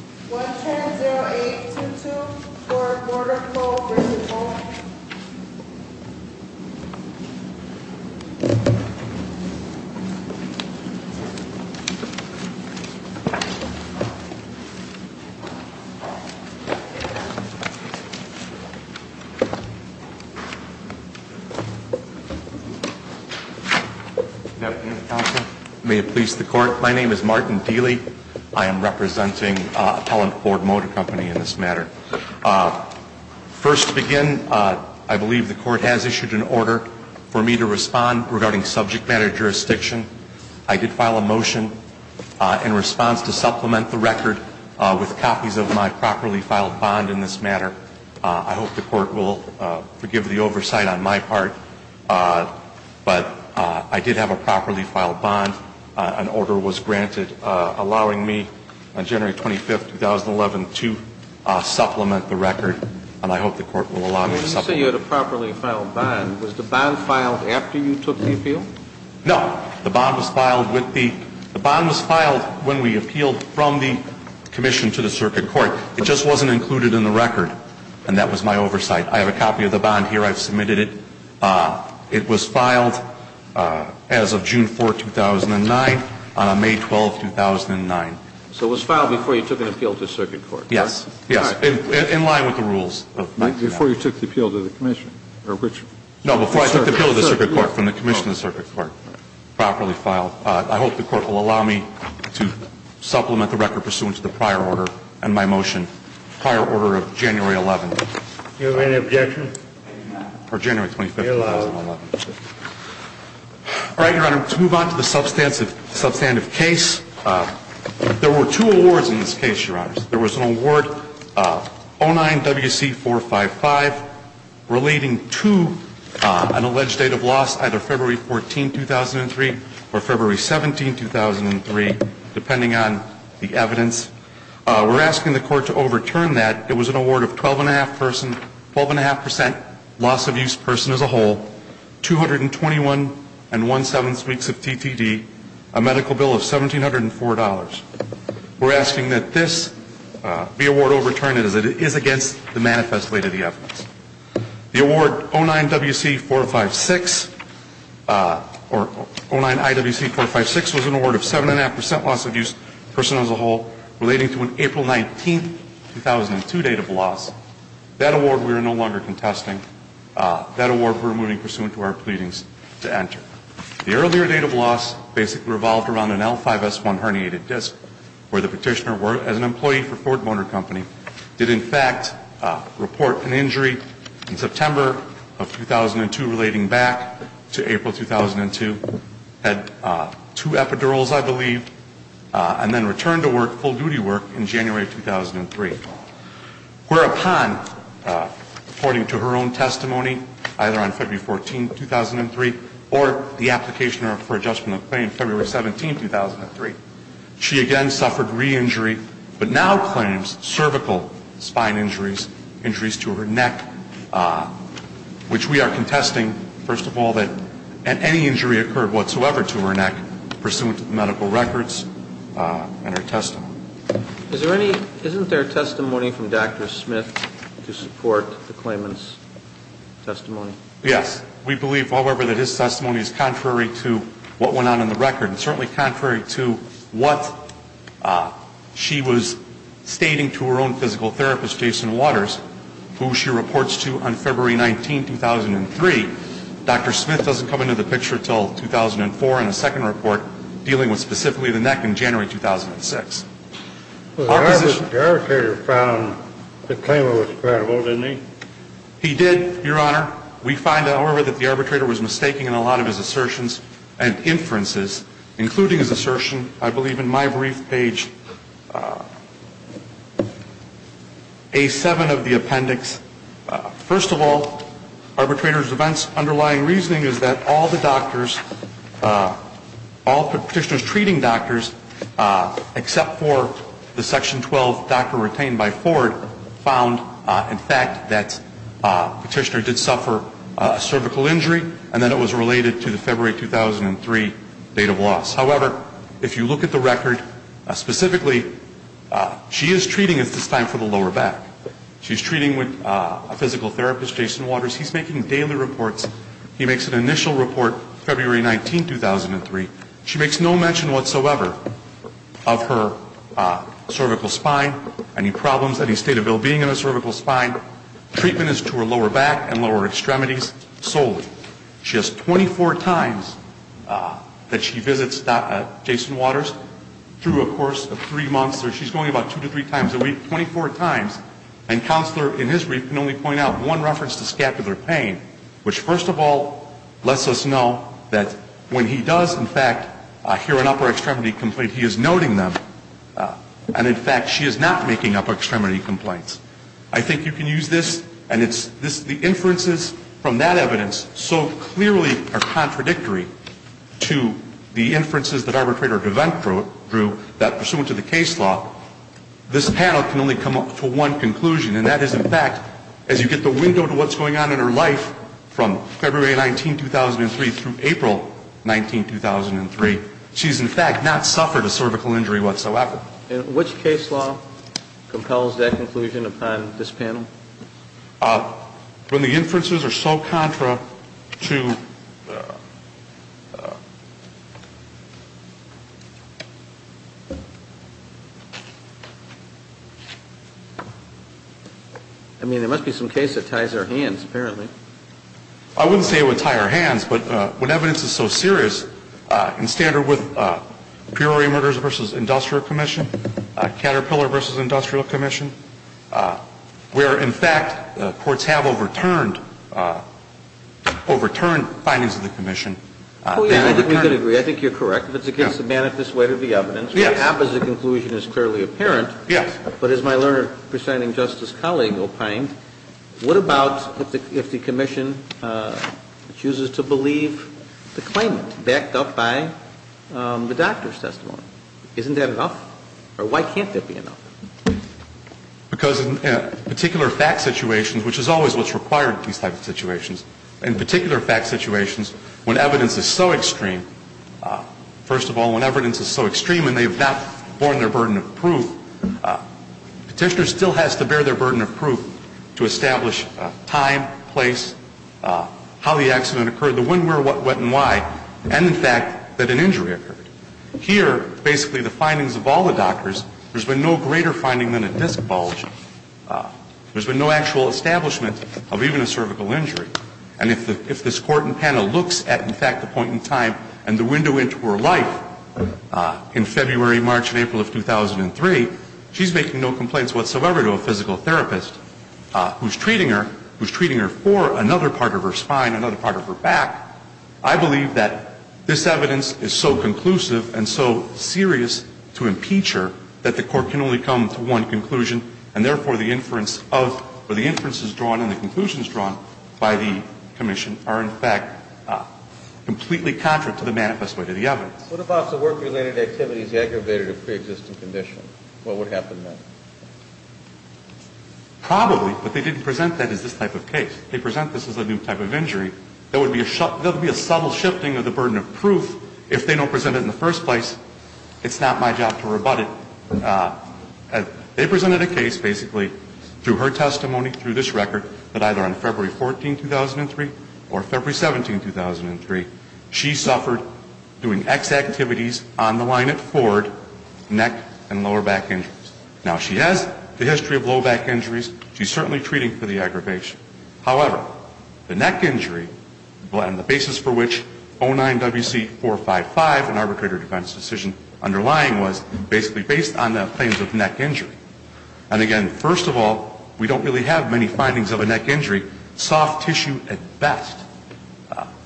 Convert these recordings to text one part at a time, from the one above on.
1-10-0-8-2-2 for a quarter of a vote, raise your vote. May it please the court. My name is Martin Dealy. I am representing Appellant Ford Motor Company in this matter. First to begin, I believe the court has issued an order for me to respond regarding subject matter jurisdiction. I did file a motion in response to supplement the record with copies of my properly filed bond in this matter. I hope the court will forgive the oversight on my part, but I did have a properly filed bond. An order was granted allowing me on January 25, 2011, to supplement the record. And I hope the court will allow me to supplement it. When you say you had a properly filed bond, was the bond filed after you took the appeal? No. The bond was filed when we appealed from the commission to the circuit court. It just wasn't included in the record. And that was my oversight. I have a copy of the bond here. I've submitted it. It was filed as of June 4, 2009, on May 12, 2009. So it was filed before you took an appeal to the circuit court? Yes. In line with the rules. Before you took the appeal to the commission? No, before I took the appeal to the circuit court, from the commission to the circuit court. Properly filed. I hope the court will allow me to supplement the record pursuant to the prior order and my motion. Prior order of January 11. Do you have any objection? Or January 25, 2011. All right, Your Honor, let's move on to the substantive case. There were two awards in this case, Your Honor. There was an award of 09-WC455 relating to an alleged date of loss, either February 14, 2003 or February 17, 2003, depending on the evidence. We're asking the court to overturn that. It was an award of 12.5% loss of use person as a whole, 221 and one-sevenths weeks of TTD, a medical bill of $1,704. We're asking that this be awarded or overturned as it is against the manifest way to the evidence. The award 09-WC456 or 09-IWC456 was an award of 7.5% loss of use person as a whole relating to an April 19, 2002 date of loss. That award we are no longer contesting. That award we're moving pursuant to our pleadings to enter. The earlier date of loss basically revolved around an L5S1 herniated disc where the petitioner, as an employee for Ford Motor Company, did in fact report an injury in September of 2002 relating back to April 2002. Had two epidurals, I believe, and then returned to work, full-duty work, in January of 2003. Whereupon, according to her own testimony, either on February 14, 2003 or the application for adjustment of claim February 17, 2003, she again suffered re-injury but now claims cervical spine injuries, injuries to her neck, which we are contesting, first of all, that any injury occurred whatsoever to her neck pursuant to the medical records and her testimony. Isn't there a testimony from Dr. Smith to support the claimant's testimony? Yes. We believe, however, that his testimony is contrary to what went on in the record and certainly contrary to what she was stating to her own physical therapist, Jason Waters, who she reports to on February 19, 2003. Dr. Smith doesn't come into the picture until 2004 in a second report dealing with specifically the neck in January 2006. The arbitrator found the claimant was credible, didn't he? He did, Your Honor. We find, however, that the arbitrator was mistaking in a lot of his assertions and inferences, including his assertion, I believe, in my brief page A7 of the appendix. First of all, arbitrator's underlying reasoning is that all the doctors, all Petitioner's treating doctors, except for the Section 12 doctor retained by Ford, found, in fact, that Petitioner did suffer a cervical injury and that it was related to the February 2003 date of loss. However, if you look at the record specifically, she is treating at this time for the lower back. She's treating with a physical therapist, Jason Waters. He's making daily reports. He makes an initial report February 19, 2003. She makes no mention whatsoever of her cervical spine, any problems, any state of well-being in her cervical spine. Treatment is to her lower back and lower extremities solely. She has 24 times that she visits Jason Waters through a course of three months. She's going about two to three times a week, 24 times. And counselor in his brief can only point out one reference to scapular pain, which, first of all, lets us know that when he does, in fact, hear an upper extremity complaint, he is noting them. And, in fact, she is not making upper extremity complaints. I think you can use this, and it's the inferences from that evidence so clearly are contradictory to the inferences that arbitrator DeVant drew that, pursuant to the case law, this panel can only come up to one conclusion, and that is, in fact, as you get the window to what's going on in her life from February 19, 2003 through April 19, 2003, she's, in fact, not suffered a cervical injury whatsoever. And which case law compels that conclusion upon this panel? I mean, there must be some case that ties our hands, apparently. I wouldn't say it would tie our hands, but when evidence is so serious, in standard with Peoria Murders v. Industrial Commission, Caterpillar v. Industrial Commission, where, in fact, the courts have overturned, overturned findings of the commission, and overturned it. Oh, yes. I think we could agree. I think you're correct. If it's against the manifest weight of the evidence, what happens to the conclusion is clearly apparent. Yes. But as my learned presiding justice colleague opined, what about if the commission chooses to believe the claimant backed up by the doctor's testimony? Isn't that enough? Or why can't there be enough? Because in particular fact situations, which is always what's required in these types of situations, in particular fact situations, when evidence is so extreme, first of all, when evidence is so extreme and they've not borne their burden of proof, petitioner still has to bear their burden of proof to establish time, place, how the accident occurred, the when, where, what, when, why, and, in fact, that an injury occurred. Here, basically the findings of all the doctors, there's been no greater finding than a disc bulge. There's been no actual establishment of even a cervical injury. And if this court and panel looks at, in fact, the point in time and the window into her life in February, March, and April of 2003, she's making no complaints whatsoever to a physical therapist who's treating her, who's treating her for another part of her spine, another part of her back. I believe that this evidence is so conclusive and so serious to impeacher that the court can only come to one conclusion and, therefore, the inference of, or the inferences drawn and the conclusions drawn by the commission are, in fact, completely contrary to the manifest way to the evidence. What about the work-related activities aggravated or preexisting condition? What would happen then? Probably, but they didn't present that as this type of case. They present this as a new type of injury. There would be a subtle shifting of the burden of proof if they don't present it in the first place. It's not my job to rebut it. They presented a case, basically, through her testimony, through this record, that either on February 14, 2003, or February 17, 2003, she suffered doing X activities on the line at Ford, neck and lower back injuries. Now, she has the history of low back injuries. She's certainly treating for the aggravation. However, the neck injury and the basis for which 09WC455, an arbitrator defense decision, underlying was basically based on the claims of neck injury. And, again, first of all, we don't really have many findings of a neck injury, soft tissue at best.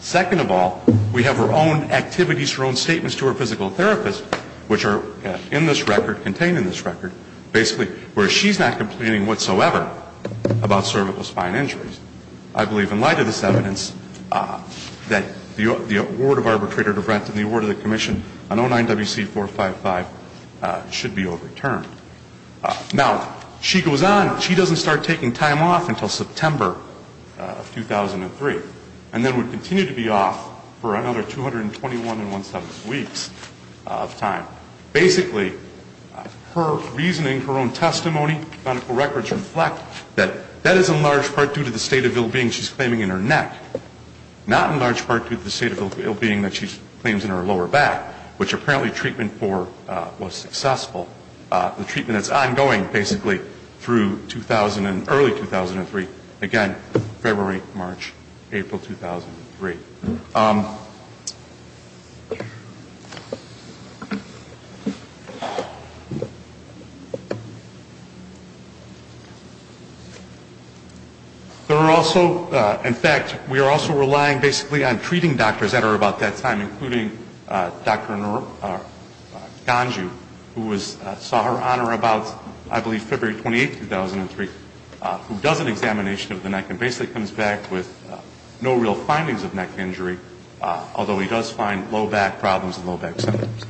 Second of all, we have her own activities, her own statements to her physical therapist, which are in this record, contained in this record, basically where she's not complaining whatsoever about cervical spine injuries. I believe in light of this evidence that the award of arbitrator defense and the award of the commission on 09WC455 should be overturned. Now, she goes on. She doesn't start taking time off until September of 2003, and then would continue to be off for another 221 and 17 weeks of time. Now, basically, her reasoning, her own testimony, medical records reflect that that is in large part due to the state of ill-being she's claiming in her neck, not in large part due to the state of ill-being that she claims in her lower back, which apparently treatment for was successful. The treatment is ongoing, basically, through early 2003. Again, February, March, April 2003. There are also, in fact, we are also relying basically on treating doctors that are about that time, including Dr. Ganju, who saw her honor about, I believe, February 28, 2003, who does an examination of the neck and basically comes back with no real findings of neck injury, although he does find low back problems and low back symptoms.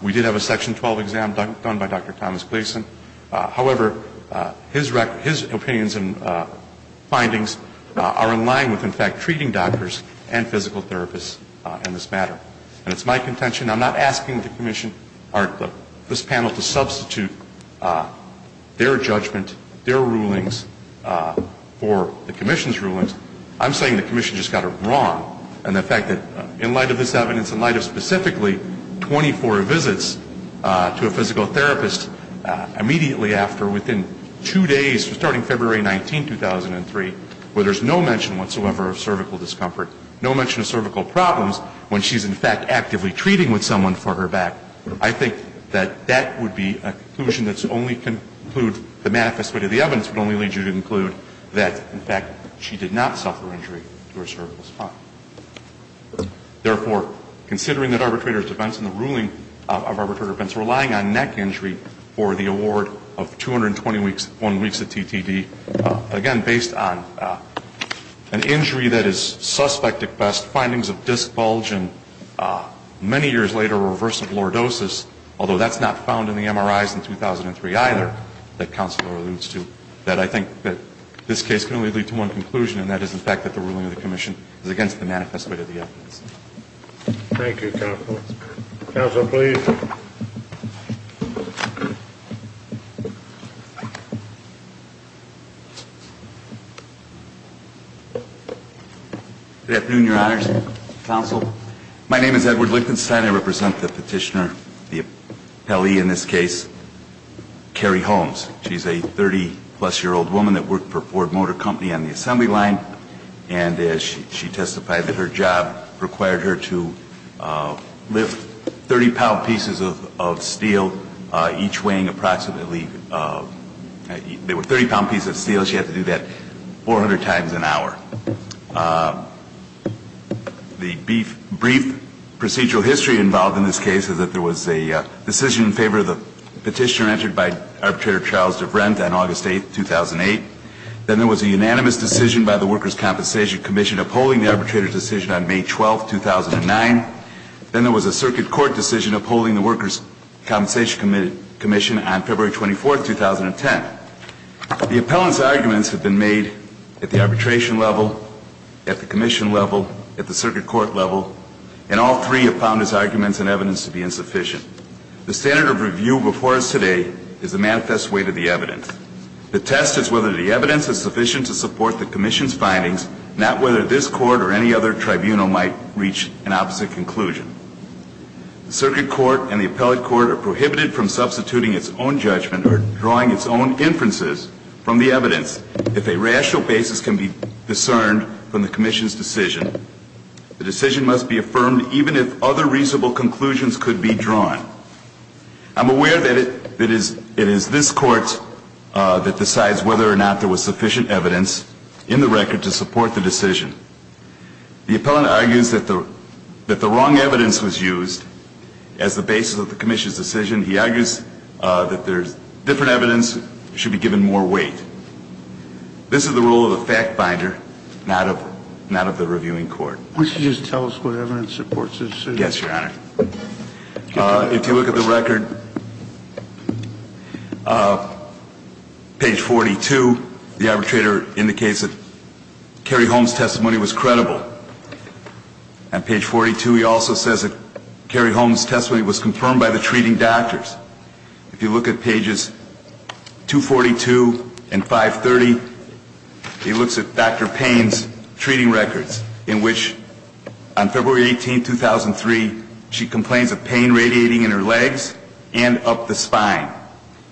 We did have a Section 12 exam done by Dr. Thomas Gleason. However, his opinions and findings are in line with, in fact, treating doctors and physical therapists in this matter. And it's my contention, I'm not asking this panel to substitute their judgment, their rulings for the Commission's rulings. I'm saying the Commission just got it wrong, and the fact that in light of this evidence, in light of specifically 24 visits to a physical therapist immediately after, within two days, starting February 19, 2003, where there's no mention whatsoever of cervical discomfort, no mention of cervical problems when she's, in fact, actively treating with someone for her back, I think that that would be a conclusion that's only conclude, the manifest way to the evidence would only lead you to conclude that, in fact, she did not suffer injury to her cervical spine. Therefore, considering that arbitrator's defense and the ruling of arbitrator defense relying on neck injury for the award of 221 weeks of TTD, again, based on an injury that is suspect at best, findings of disc bulge, and many years later, reverse of lordosis, although that's not found in the MRIs in 2003 either that Counselor alludes to, that I think that this case can only lead to one conclusion, and that is, in fact, that the ruling of the Commission is against the manifest way to the evidence. Thank you, Counsel. Counsel, please. Good afternoon, Your Honors. Counsel, my name is Edward Lichtenstein. I represent the petitioner, the appellee in this case, Carrie Holmes. She's a 30-plus-year-old woman that worked for Ford Motor Company on the assembly line, and she testified that her job required her to lift 30-pound pieces of steel, each weighing approximately – they were 30-pound pieces of steel. She had to do that 400 times an hour. The brief procedural history involved in this case is that there was a decision in favor of the petitioner entered by Arbitrator Charles DeVrend on August 8, 2008. Then there was a unanimous decision by the Workers' Compensation Commission upholding the arbitrator's decision on May 12, 2009. Then there was a Circuit Court decision upholding the Workers' Compensation Commission on February 24, 2010. The appellant's arguments have been made at the arbitration level, at the Commission level, at the Circuit Court level, and all three have found his arguments and evidence to be insufficient. The standard of review before us today is the manifest way to the evidence. The test is whether the evidence is sufficient to support the Commission's findings, not whether this Court or any other tribunal might reach an opposite conclusion. The Circuit Court and the appellate court are prohibited from substituting its own judgment or drawing its own inferences from the evidence. If a rational basis can be discerned from the Commission's decision, the decision must be affirmed even if other reasonable conclusions could be drawn. I'm aware that it is this Court that decides whether or not there was sufficient evidence in the record to support the decision. The appellant argues that the wrong evidence was used as the basis of the Commission's decision. He argues that different evidence should be given more weight. This is the role of the fact binder, not of the reviewing court. Why don't you just tell us what evidence supports this decision? Yes, Your Honor. If you look at the record, page 42, the arbitrator indicates that Cary Holmes' testimony was credible. On page 42, he also says that Cary Holmes' testimony was confirmed by the treating doctors. If you look at pages 242 and 530, he looks at Dr. Payne's treating records, in which on February 18, 2003, she complains of pain radiating in her legs and up the spine,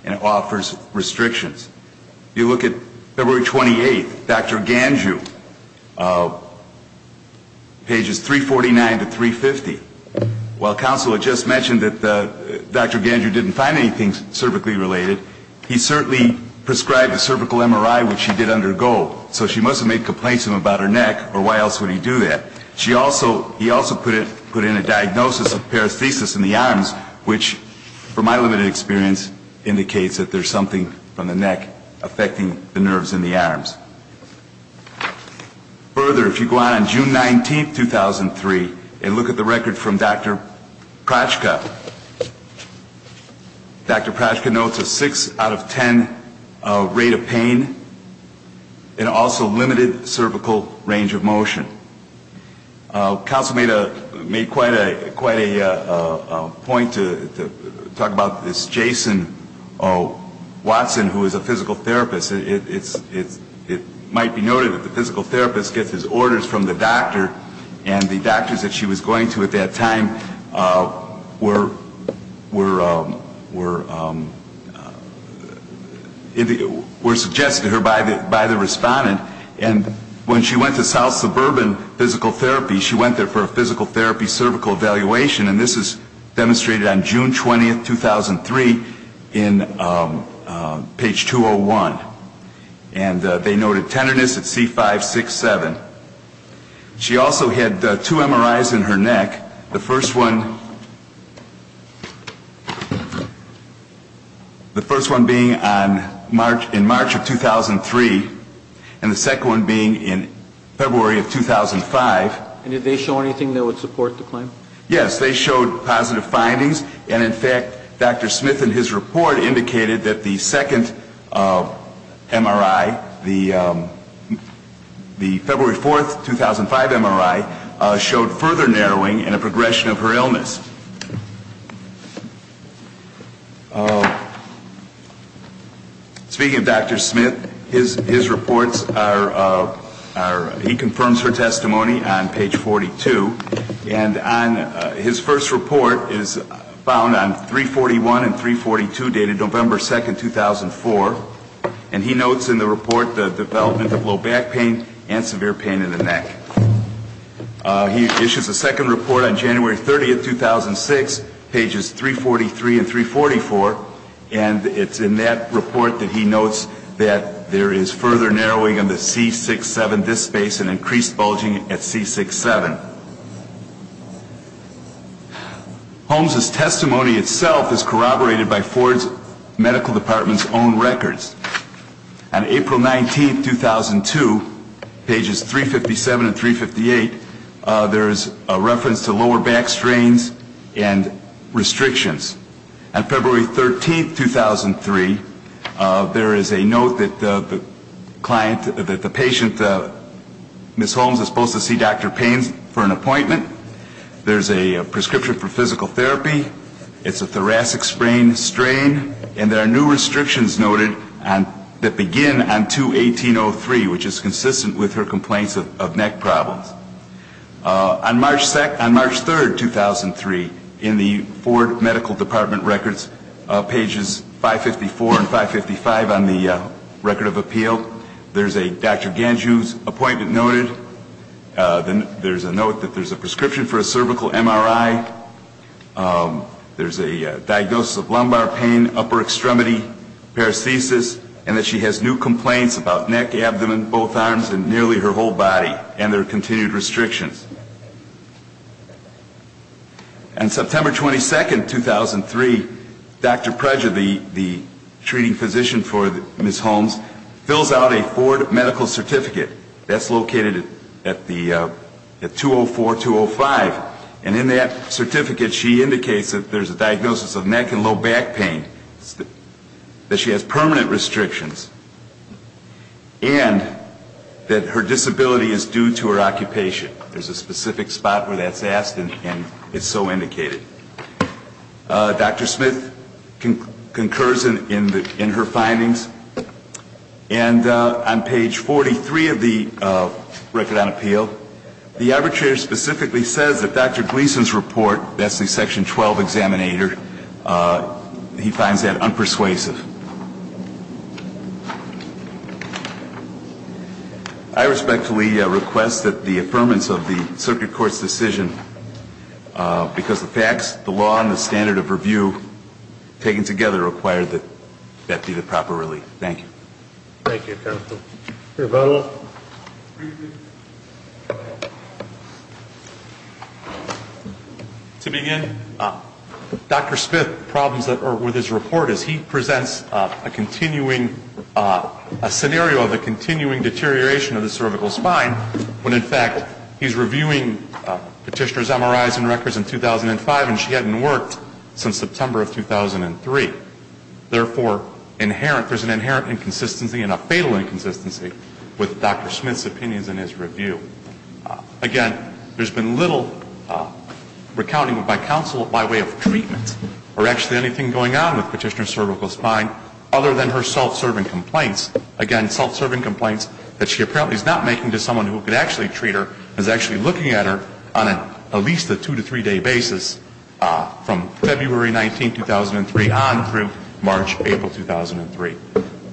and offers restrictions. If you look at February 28, Dr. Ganju, pages 349 to 350, while counsel had just mentioned that Dr. Ganju didn't find anything cervically related, he certainly prescribed a cervical MRI, which he did undergo. So she must have made complaints to him about her neck, or why else would he do that? He also put in a diagnosis of paresthesis in the arms, which, from my limited experience, indicates that there's something from the neck affecting the nerves in the arms. Further, if you go on June 19, 2003, and look at the record from Dr. Prochka, Dr. Prochka notes a 6 out of 10 rate of pain, and also limited cervical range of motion. Counsel made quite a point to talk about this Jason Watson, who is a physical therapist. It might be noted that the physical therapist gets his orders from the doctor, and the doctors that she was going to at that time were suggested to her by the respondent, and when she went to South Suburban Physical Therapy, she went there for a physical therapy cervical evaluation, and this is demonstrated on June 20, 2003, in page 201. And they noted tenderness at C567. She also had two MRIs in her neck, the first one being in March of 2003, and the second one being in February of 2005. And did they show anything that would support the claim? Yes, they showed positive findings, and in fact, Dr. Smith in his report indicated that the second MRI, the February 4, 2005 MRI, showed further narrowing and a progression of her illness. Speaking of Dr. Smith, his reports are, he confirms her testimony on page 42, and his first report is found on 341 and 342, dated November 2, 2004, and he notes in the report the development of low back pain and severe pain in the neck. He issues a second report on January 30, 2006, pages 343 and 344, and it's in that report that he notes that there is further narrowing in the C6-7 disc space and increased bulging at C6-7. Holmes' testimony itself is corroborated by Ford's medical department's own records. On April 19, 2002, pages 357 and 358, there is a reference to lower back strains and restrictions. On February 13, 2003, there is a note that the patient, Ms. Holmes, is supposed to see Dr. Payne for an appointment. There's a prescription for physical therapy. It's a thoracic strain, and there are new restrictions noted that begin on 2-1803, which is consistent with her complaints of neck problems. On March 3, 2003, in the Ford medical department records, pages 554 and 555 on the record of appeal, there's a Dr. Ganju's appointment noted. There's a note that there's a prescription for a cervical MRI. There's a diagnosis of lumbar pain, upper extremity, paresthesis, and that she has new complaints about neck, abdomen, both arms, and nearly her whole body, and there are continued restrictions. On September 22, 2003, Dr. Preje, the treating physician for Ms. Holmes, fills out a Ford medical certificate that's located at 204-205, and in that certificate, she indicates that there's a diagnosis of neck and low back pain, that she has permanent restrictions, and that her disability is due to her occupation. There's a specific spot where that's asked, and it's so indicated. Dr. Smith concurs in her findings, and on page 43 of the record on appeal, the arbitrator specifically says that Dr. Gleason's report, that's the section 12 examinator, he finds that unpersuasive. I respectfully request that the affirmance of the circuit court's decision, because the facts, the law, and the standard of review taken together require that that be the proper relief. Thank you. Thank you, counsel. We'll vote on it. Briefly. To begin, Dr. Smith's problems with his report is he presents a continuing scenario of a continuing deterioration of the cervical spine, when in fact he's reviewing Petitioner's MRIs and records in 2005, and she hadn't worked since September of 2003. Therefore, there's an inherent inconsistency and a fatal inconsistency with Dr. Smith's opinions in his review. Again, there's been little recounting by counsel of my way of treatment or actually anything going on with Petitioner's cervical spine other than her self-serving complaints. Again, self-serving complaints that she apparently is not making to someone who could actually treat her, is actually looking at her on at least a two- to three-day basis from February 19, 2003, on through March, April 2003.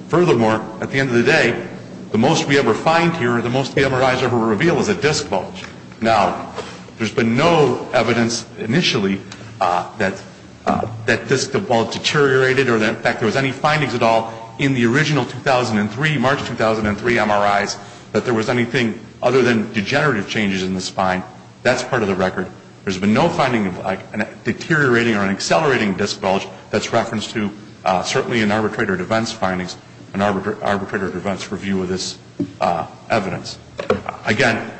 Furthermore, at the end of the day, the most we ever find here, the most the MRIs ever reveal is a disc bulge. Now, there's been no evidence initially that that disc bulge deteriorated or that in fact there was any findings at all in the original 2003, March 2003 MRIs, that there was anything other than degenerative changes in the spine. That's part of the record. There's been no finding of like a deteriorating or an accelerating disc bulge that's referenced to certainly in Arbitrator DeVant's findings, in Arbitrator DeVant's review of this evidence. Again,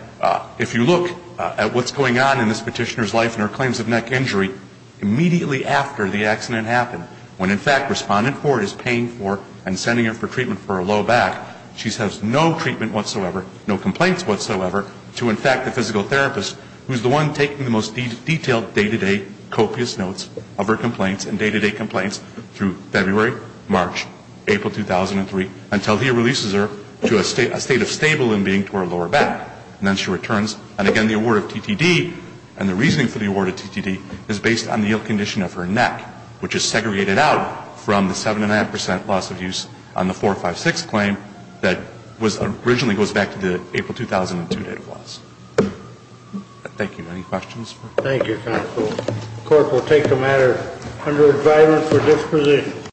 if you look at what's going on in this Petitioner's life and her claims of neck injury, immediately after the accident happened, when in fact Respondent Ford is paying for and sending her for treatment for her low back, she has no treatment whatsoever, no complaints whatsoever to in fact the physical therapist, who's the one taking the most detailed day-to-day copious notes of her complaints and day-to-day complaints through February, March, April 2003, until he releases her to a state of stable in being to her lower back. And then she returns, and again the award of TTD, and the reasoning for the award of TTD is based on the ill condition of her neck, which is segregated out from the 7.5% loss of use on the 456 claim that originally goes back to the April 2002 day-to-day loss. Thank you. Any questions? Thank you, Counsel. The Court will take the matter under advisement for disposition.